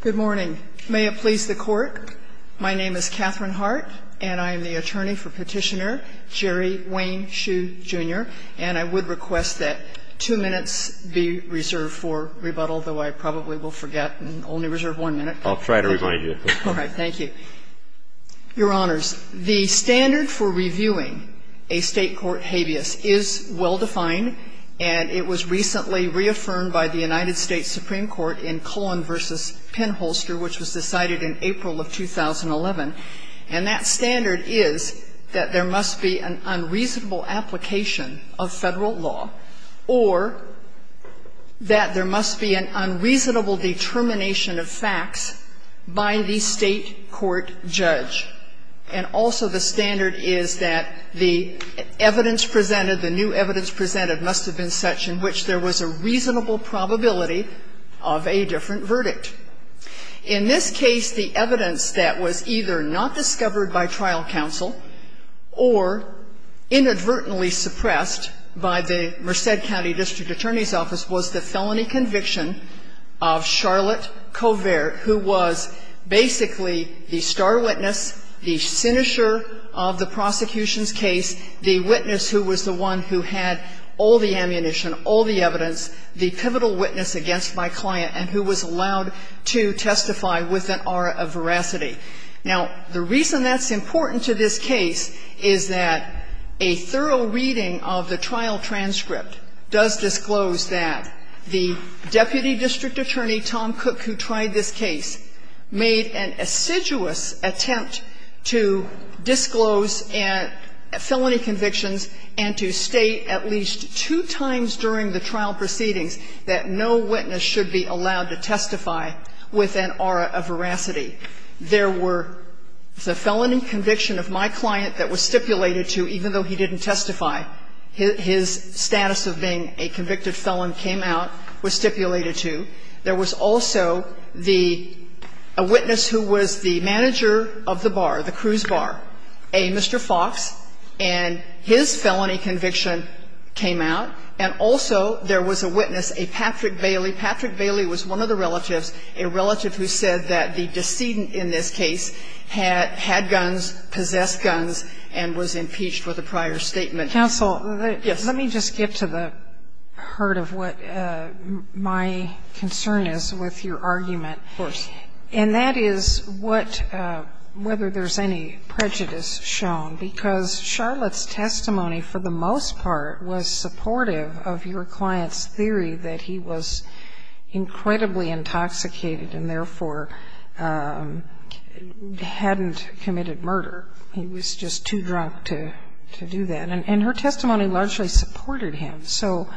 Good morning. May it please the Court, my name is Katherine Hart and I am the attorney for Petitioner Jerry Wayne Shue Jr. and I would request that two minutes be reserved for rebuttal, though I probably will forget and only reserve one minute. I'll try to remind you. All right, thank you. Your Honors, the standard for reviewing a state court habeas is well defined and it was recently reaffirmed by the United States Supreme Court in Cullen v. Penholster, which was decided in April of 2011. And that standard is that there must be an unreasonable application of Federal law or that there must be an unreasonable determination of facts by the state court judge. And also the standard is that the evidence presented, the new evidence presented, must have been such in which there was a reasonable probability of a different verdict. In this case, the evidence that was either not discovered by trial counsel or inadvertently suppressed by the Merced County District Attorney's Office was the felony conviction of Charlotte Covert, who was basically the star witness, the sinisher of the prosecution's case, the witness who was the one who had all the ammunition, all the evidence, the pivotal witness against my client, and who was allowed to testify with an aura of veracity. Now, the reason that's important to this case is that a thorough reading of the trial transcript does disclose that the deputy district attorney, Tom Cook, who tried this case, made an assiduous attempt to disclose felony convictions and to state at least two times during the trial proceedings that no witness should be allowed to testify with an aura of veracity. There were the felony conviction of my client that was stipulated to, even though he didn't testify, his status of being a convicted felon came out, was stipulated to. There was also the – a witness who was the manager of the bar, the cruise bar, a Mr. Fox, and his felony conviction came out. And also there was a witness, a Patrick Bailey. Patrick Bailey was one of the relatives, a relative who said that the decedent in this case had guns, possessed guns, and was impeached with a prior statement. Counsel, let me just get to the heart of what my concern is with your argument. Of course. And that is what – whether there's any prejudice shown. Because Charlotte's testimony, for the most part, was supportive of your client's theory that he was incredibly intoxicated and therefore hadn't committed murder. He was just too drunk to do that. And her testimony largely supported him. So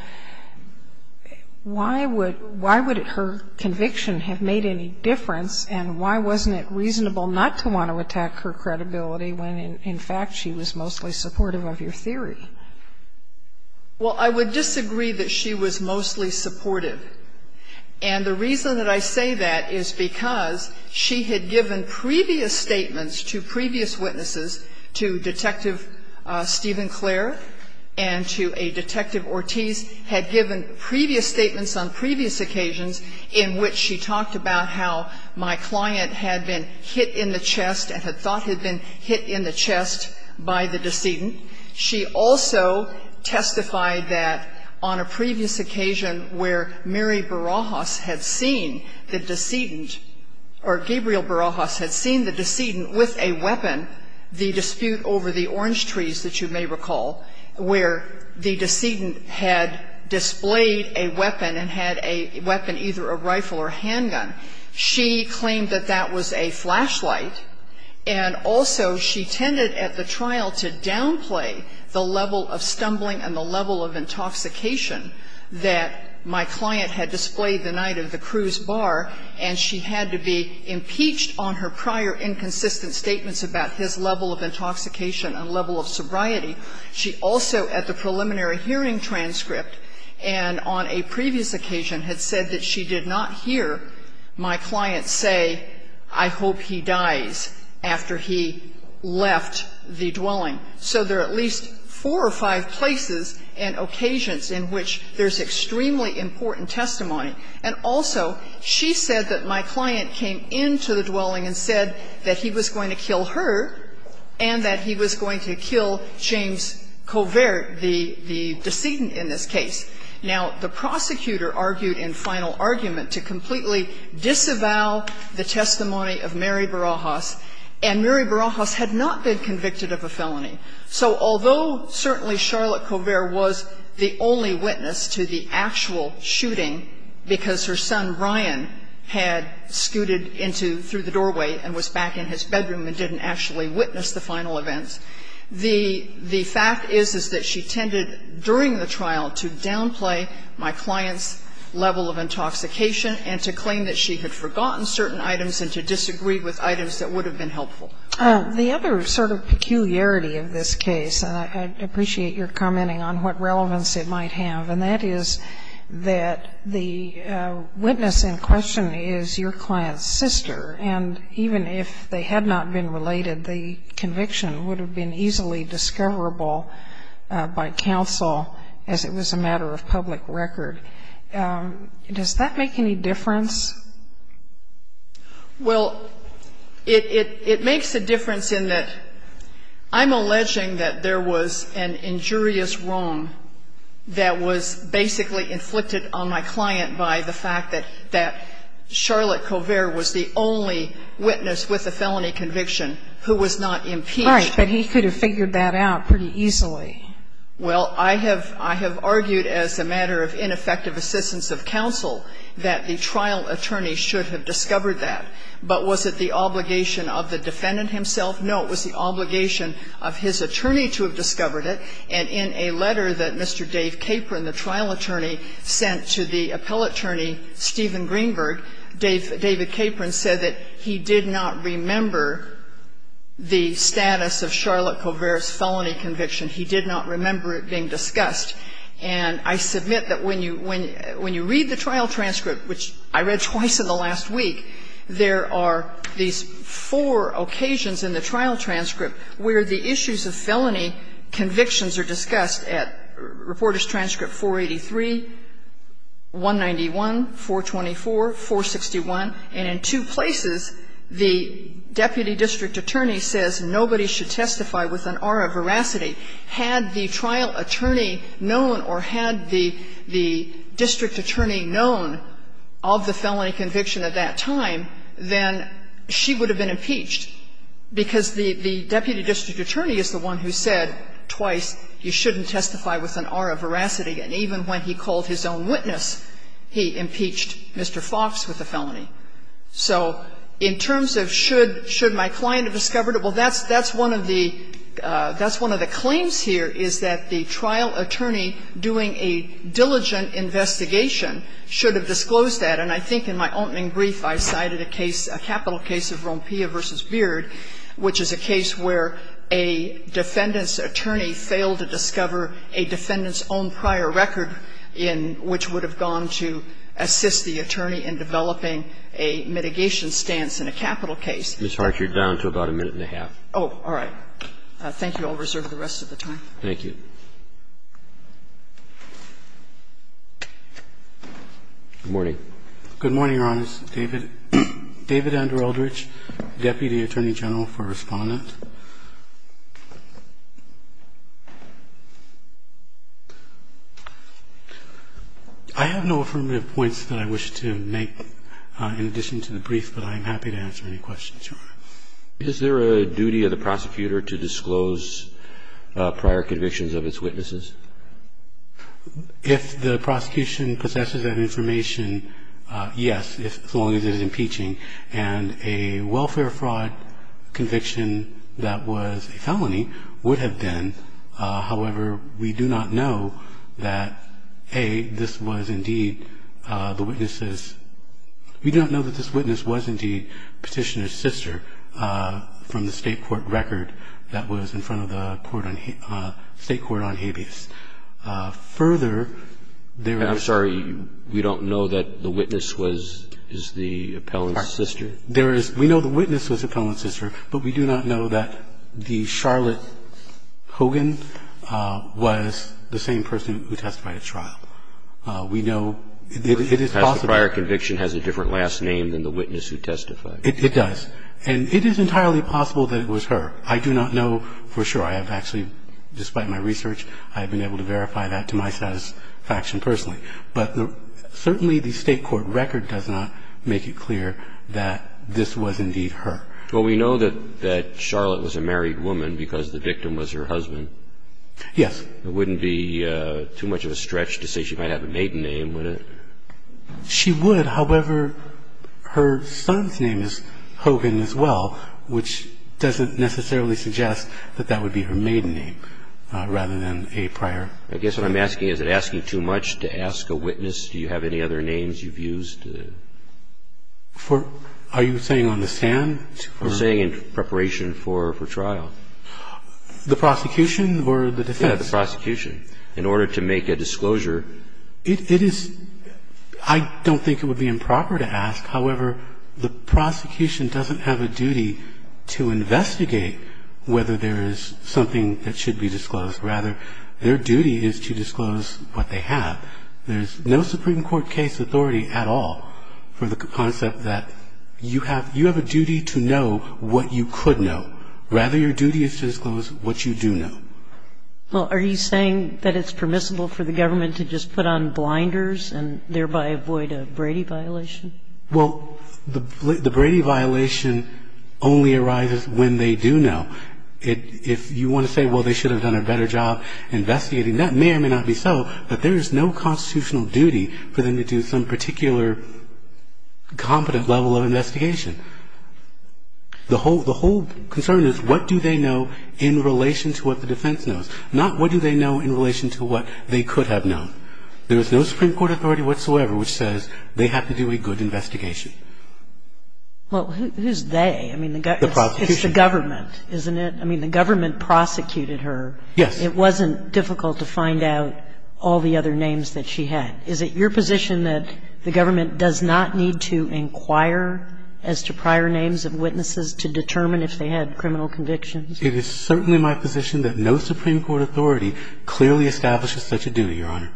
why would – why would her conviction have made any difference, and why wasn't it reasonable not to want to attack her credibility when, in fact, she was mostly supportive of your theory? Well, I would disagree that she was mostly supportive. And the reason that I say that is because she had given previous statements to previous witnesses, to Detective Stephen Clare and to a Detective Ortiz, had given previous statements on previous occasions in which she talked about how my client had been hit in the chest and had thought had been hit in the chest by the decedent. She also testified that on a previous occasion where Mary Barajas had seen the decedent or Gabriel Barajas had seen the decedent with a weapon, the dispute over the orange trees that you may recall, where the decedent had displayed a weapon and had a weapon, either a rifle or a handgun, she claimed that that was a flashlight. And also she tended at the trial to downplay the level of stumbling and the level of intoxication that my client had displayed the night of the cruise bar, and she had to be impeached on her prior inconsistent statements about his level of intoxication and level of sobriety. She also at the preliminary hearing transcript and on a previous occasion had said that she did not hear my client say, I hope he dies after he left the dwelling. So there are at least four or five places and occasions in which there's extremely important testimony. And also she said that my client came into the dwelling and said that he was going to kill her and that he was going to kill James Colvert, the decedent in this case. Now, the prosecutor argued in final argument to completely disavow the testimony of Mary Barajas, and Mary Barajas had not been convicted of a felony. So although certainly Charlotte Colvert was the only witness to the actual shooting because her son, Ryan, had scooted into the doorway and was back in his bedroom and didn't actually witness the final event, the fact is, is that she tended during the trial to downplay my client's level of intoxication and to claim that she had forgotten certain items and to disagree with items that would have been helpful. The other sort of peculiarity of this case, and I appreciate your commenting on what relevance it might have, and that is that the witness in question is your client's sister, and even if they had not been related, the conviction would have been easily discoverable by counsel as it was a matter of public record. Does that make any difference? Well, it makes a difference in that I'm alleging that there was an injurious wrong that was basically inflicted on my client by the fact that Charlotte Colvert was the only witness with a felony conviction who was not impeached. Right. But he could have figured that out pretty easily. Well, I have argued as a matter of ineffective assistance of counsel that the trial attorney should have discovered that. But was it the obligation of the defendant himself? No, it was the obligation of his attorney to have discovered it. And in a letter that Mr. Dave Capron, the trial attorney, sent to the appellate attorney, Stephen Greenberg, David Capron said that he did not remember the status of Charlotte Colvert's felony conviction. He did not remember it being discussed. And I submit that when you read the trial transcript, which I read twice in the last week, there are these four occasions in the trial transcript where the issues of felony convictions are discussed at Reporters' Transcript 483, 191, 424, 461, and in two places the deputy district attorney says nobody should testify with an aura of veracity had the trial attorney known or had the district attorney known of the felony conviction at that time, then she would have been impeached, because the deputy district attorney is the one who said twice you shouldn't testify with an aura of veracity, and even when he called his own witness, he impeached Mr. Fox with the felony. So in terms of should my client have discovered it, well, that's one of the claims here, is that the trial attorney doing a diligent investigation should have disclosed that, and I think in my opening brief I cited a case, a capital case of Rompilla v. Beard, which is a case where a defendant's attorney failed to discover a defendant's own prior record in which would have gone to assist the attorney in developing a mitigation stance in a capital case. Mr. Hart, you're down to about a minute and a half. Oh, all right. Thank you. I'll reserve the rest of the time. Thank you. Good morning. Good morning, Your Honors. David Andrew Eldridge, deputy attorney general for Respondent. I have no affirmative points that I wish to make in addition to the brief, but I'm happy to answer any questions you want. Is there a duty of the prosecutor to disclose prior convictions of its witnesses? If the prosecution possesses that information, yes, as long as it is impeaching. And a welfare fraud conviction that was a felony would have been. However, we do not know that, A, this was indeed the witness's – we do not know that this witness was indeed Petitioner's sister from the State court record that was in front of the court on – State court on habeas. Further, there is – We do not know that the witness was the appellant's sister. There is – we know the witness was the appellant's sister, but we do not know that the Charlotte Hogan was the same person who testified at trial. We know it is possible. The prior conviction has a different last name than the witness who testified. It does. And it is entirely possible that it was her. I do not know for sure. I have actually, despite my research, I have been able to verify that to my satisfaction personally. But certainly the State court record does not make it clear that this was indeed her. Well, we know that Charlotte was a married woman because the victim was her husband. Yes. It wouldn't be too much of a stretch to say she might have a maiden name, would it? She would. However, her son's name is Hogan as well, which doesn't necessarily suggest that that would be her maiden name rather than a prior. I guess what I'm asking, is it asking too much to ask a witness? Do you have any other names you've used? Are you saying on the stand? I'm saying in preparation for trial. The prosecution or the defense? Yes, the prosecution. In order to make a disclosure. It is – I don't think it would be improper to ask. However, the prosecution doesn't have a duty to investigate whether there is something that should be disclosed. Rather, their duty is to disclose what they have. There is no Supreme Court case authority at all for the concept that you have a duty to know what you could know. Rather, your duty is to disclose what you do know. Well, are you saying that it's permissible for the government to just put on blinders and thereby avoid a Brady violation? Well, the Brady violation only arises when they do know. If you want to say, well, they should have done a better job investigating, that may or may not be so, but there is no constitutional duty for them to do some particular competent level of investigation. The whole concern is what do they know in relation to what the defense knows, not what do they know in relation to what they could have known. There is no Supreme Court authority whatsoever which says they have to do a good investigation. Well, who's they? The prosecution. It's the government, isn't it? I mean, the government prosecuted her. Yes. It wasn't difficult to find out all the other names that she had. Is it your position that the government does not need to inquire as to prior names of witnesses to determine if they had criminal convictions? It is certainly my position that no Supreme Court authority clearly establishes such a duty, Your Honor.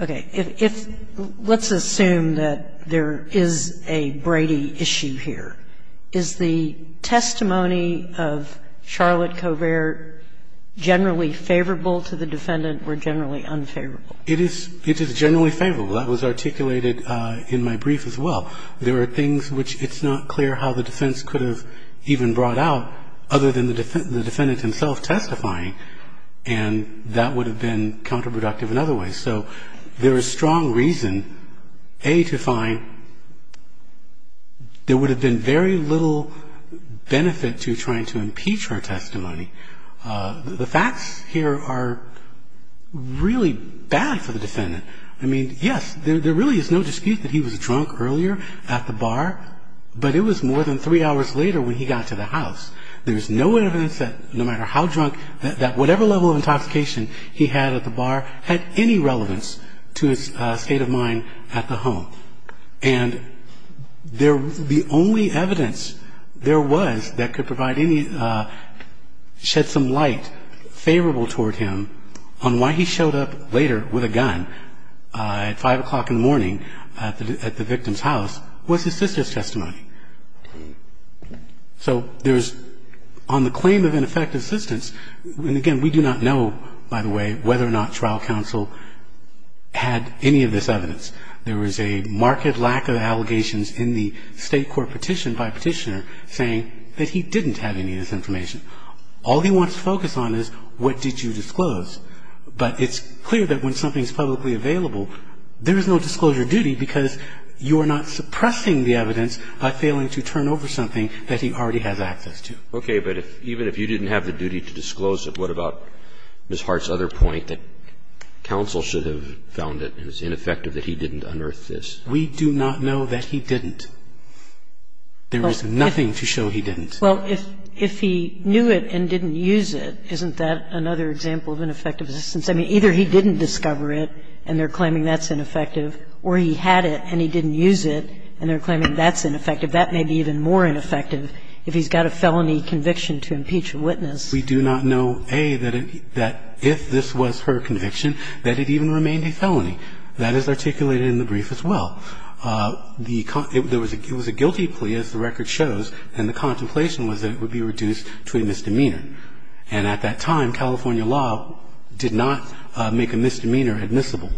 Okay. Let's assume that there is a Brady issue here. Is the testimony of Charlotte Covert generally favorable to the defendant or generally unfavorable? It is generally favorable. That was articulated in my brief as well. There are things which it's not clear how the defense could have even brought out other than the defendant himself testifying. And that would have been counterproductive in other ways. So there is strong reason, A, to find there would have been very little benefit to trying to impeach her testimony. The facts here are really bad for the defendant. I mean, yes, there really is no dispute that he was drunk earlier at the bar, but it was more than three hours later when he got to the house. There is no evidence that, no matter how drunk, that whatever level of intoxication he had at the bar had any relevance to his state of mind at the home. And the only evidence there was that could provide any, shed some light favorable toward him on why he showed up later with a gun at 5 o'clock in the morning at the victim's house was his sister's testimony. So there's, on the claim of ineffective assistance, and again, we do not know, by the way, whether or not trial counsel had any of this evidence. There was a marked lack of allegations in the state court petition by a petitioner saying that he didn't have any of this information. All he wants to focus on is what did you disclose. But it's clear that when something is publicly available, there is no disclosure duty because you are not suppressing the evidence by failing to turn over something that he already has access to. Okay. But even if you didn't have the duty to disclose it, what about Ms. Hart's other point that counsel should have found it as ineffective that he didn't unearth this? We do not know that he didn't. There was nothing to show he didn't. Well, if he knew it and didn't use it, isn't that another example of ineffective assistance? I mean, either he didn't discover it, and they're claiming that's ineffective, or he had it and he didn't use it, and they're claiming that's ineffective. That may be even more ineffective if he's got a felony conviction to impeach a witness. We do not know, A, that if this was her conviction, that it even remained a felony. That is articulated in the brief as well. It was a guilty plea, as the record shows, and the contemplation was that it would be reduced to a misdemeanor. And at that time, California law did not make a misdemeanor admissible.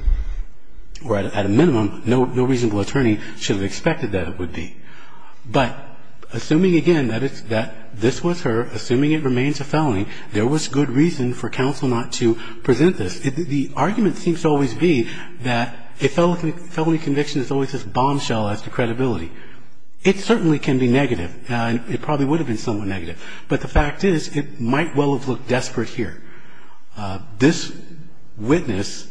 Or at a minimum, no reasonable attorney should have expected that it would be. But assuming again that this was her, assuming it remains a felony, there was good reason for counsel not to present this. The argument seems to always be that a felony conviction is always this bombshell as to credibility. It certainly can be negative. It probably would have been somewhat negative. But the fact is it might well have looked desperate here. This witness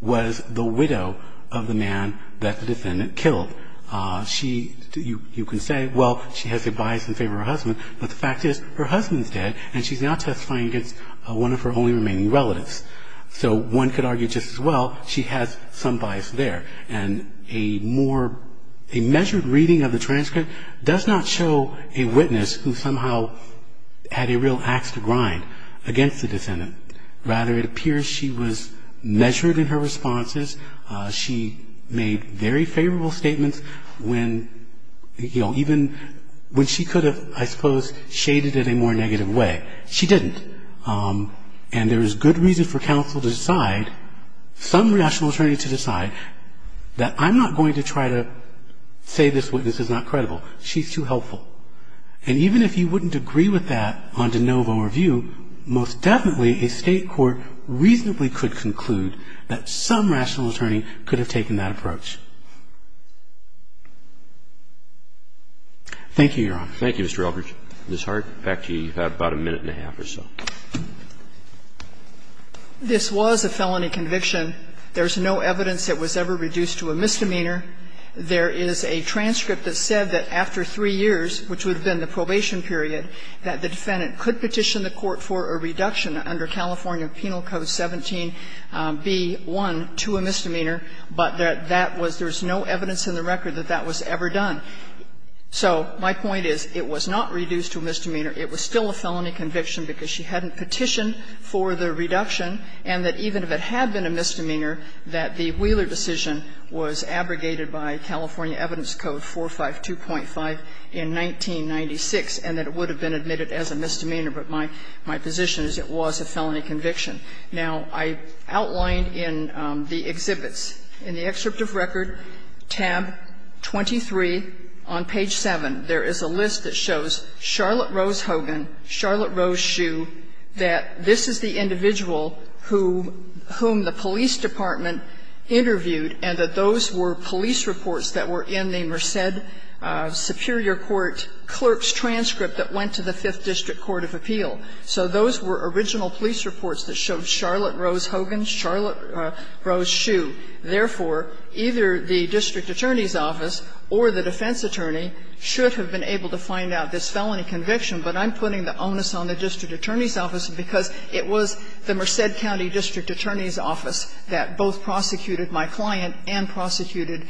was the widow of the man that the defendant killed. You can say, well, she has a bias in favor of her husband, but the fact is her husband's dead and she's now testifying against one of her only remaining relatives. So one could argue just as well she has some bias there. And a more, a measured reading of the transcript does not show a witness who somehow had a real axe to grind against the defendant. Rather, it appears she was measured in her responses. She made very favorable statements when, you know, even when she could have, I suppose, shaded it in a more negative way. She didn't. And there is good reason for counsel to decide, some rational attorney to decide, that I'm not going to try to say this witness is not credible. She's too helpful. And even if you wouldn't agree with that on de novo review, most definitely a State court reasonably could conclude that some rational attorney could have taken that approach. Thank you, Your Honor. Roberts. Thank you, Mr. Elbridge. Ms. Hart, back to you. You have about a minute and a half or so. This was a felony conviction. There's no evidence it was ever reduced to a misdemeanor. There is a transcript that said that after 3 years, which would have been the probation period, that the defendant could petition the court for a reduction under California Penal Code 17b1 to a misdemeanor, but that that was no evidence in the record that that was ever done. So my point is it was not reduced to a misdemeanor. It was still a felony conviction because she hadn't petitioned for the reduction, and that even if it had been a misdemeanor, that the Wheeler decision was abrogated by California Evidence Code 452.5 in 1996, and that it would have been admitted as a misdemeanor. But my position is it was a felony conviction. Now, I outlined in the exhibits, in the excerpt of record, tab 23 on page 7, there is a list that shows Charlotte Rose Hogan, Charlotte Rose Hsu, that this is the individual who the police department interviewed and that those were police reports that were in the Merced Superior Court clerk's transcript that went to the Fifth District Court of Appeal. So those were original police reports that showed Charlotte Rose Hogan, Charlotte Rose Hsu. Therefore, either the district attorney's office or the defense attorney should have been able to find out this felony conviction, but I'm putting the onus on the district attorney's office because it was the Merced County district attorney's office that both prosecuted my client and prosecuted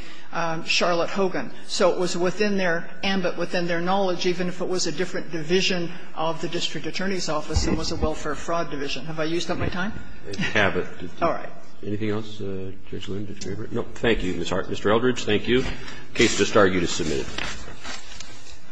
Charlotte Hogan. So it was within their ambit, within their knowledge, even if it was a different division of the district attorney's office, it was a welfare fraud division. Have I used up my time? Roberts, anything else, Judge Loon, Judge Graber? No, thank you, Mr. Eldridge, thank you. Case to start, you just submitted.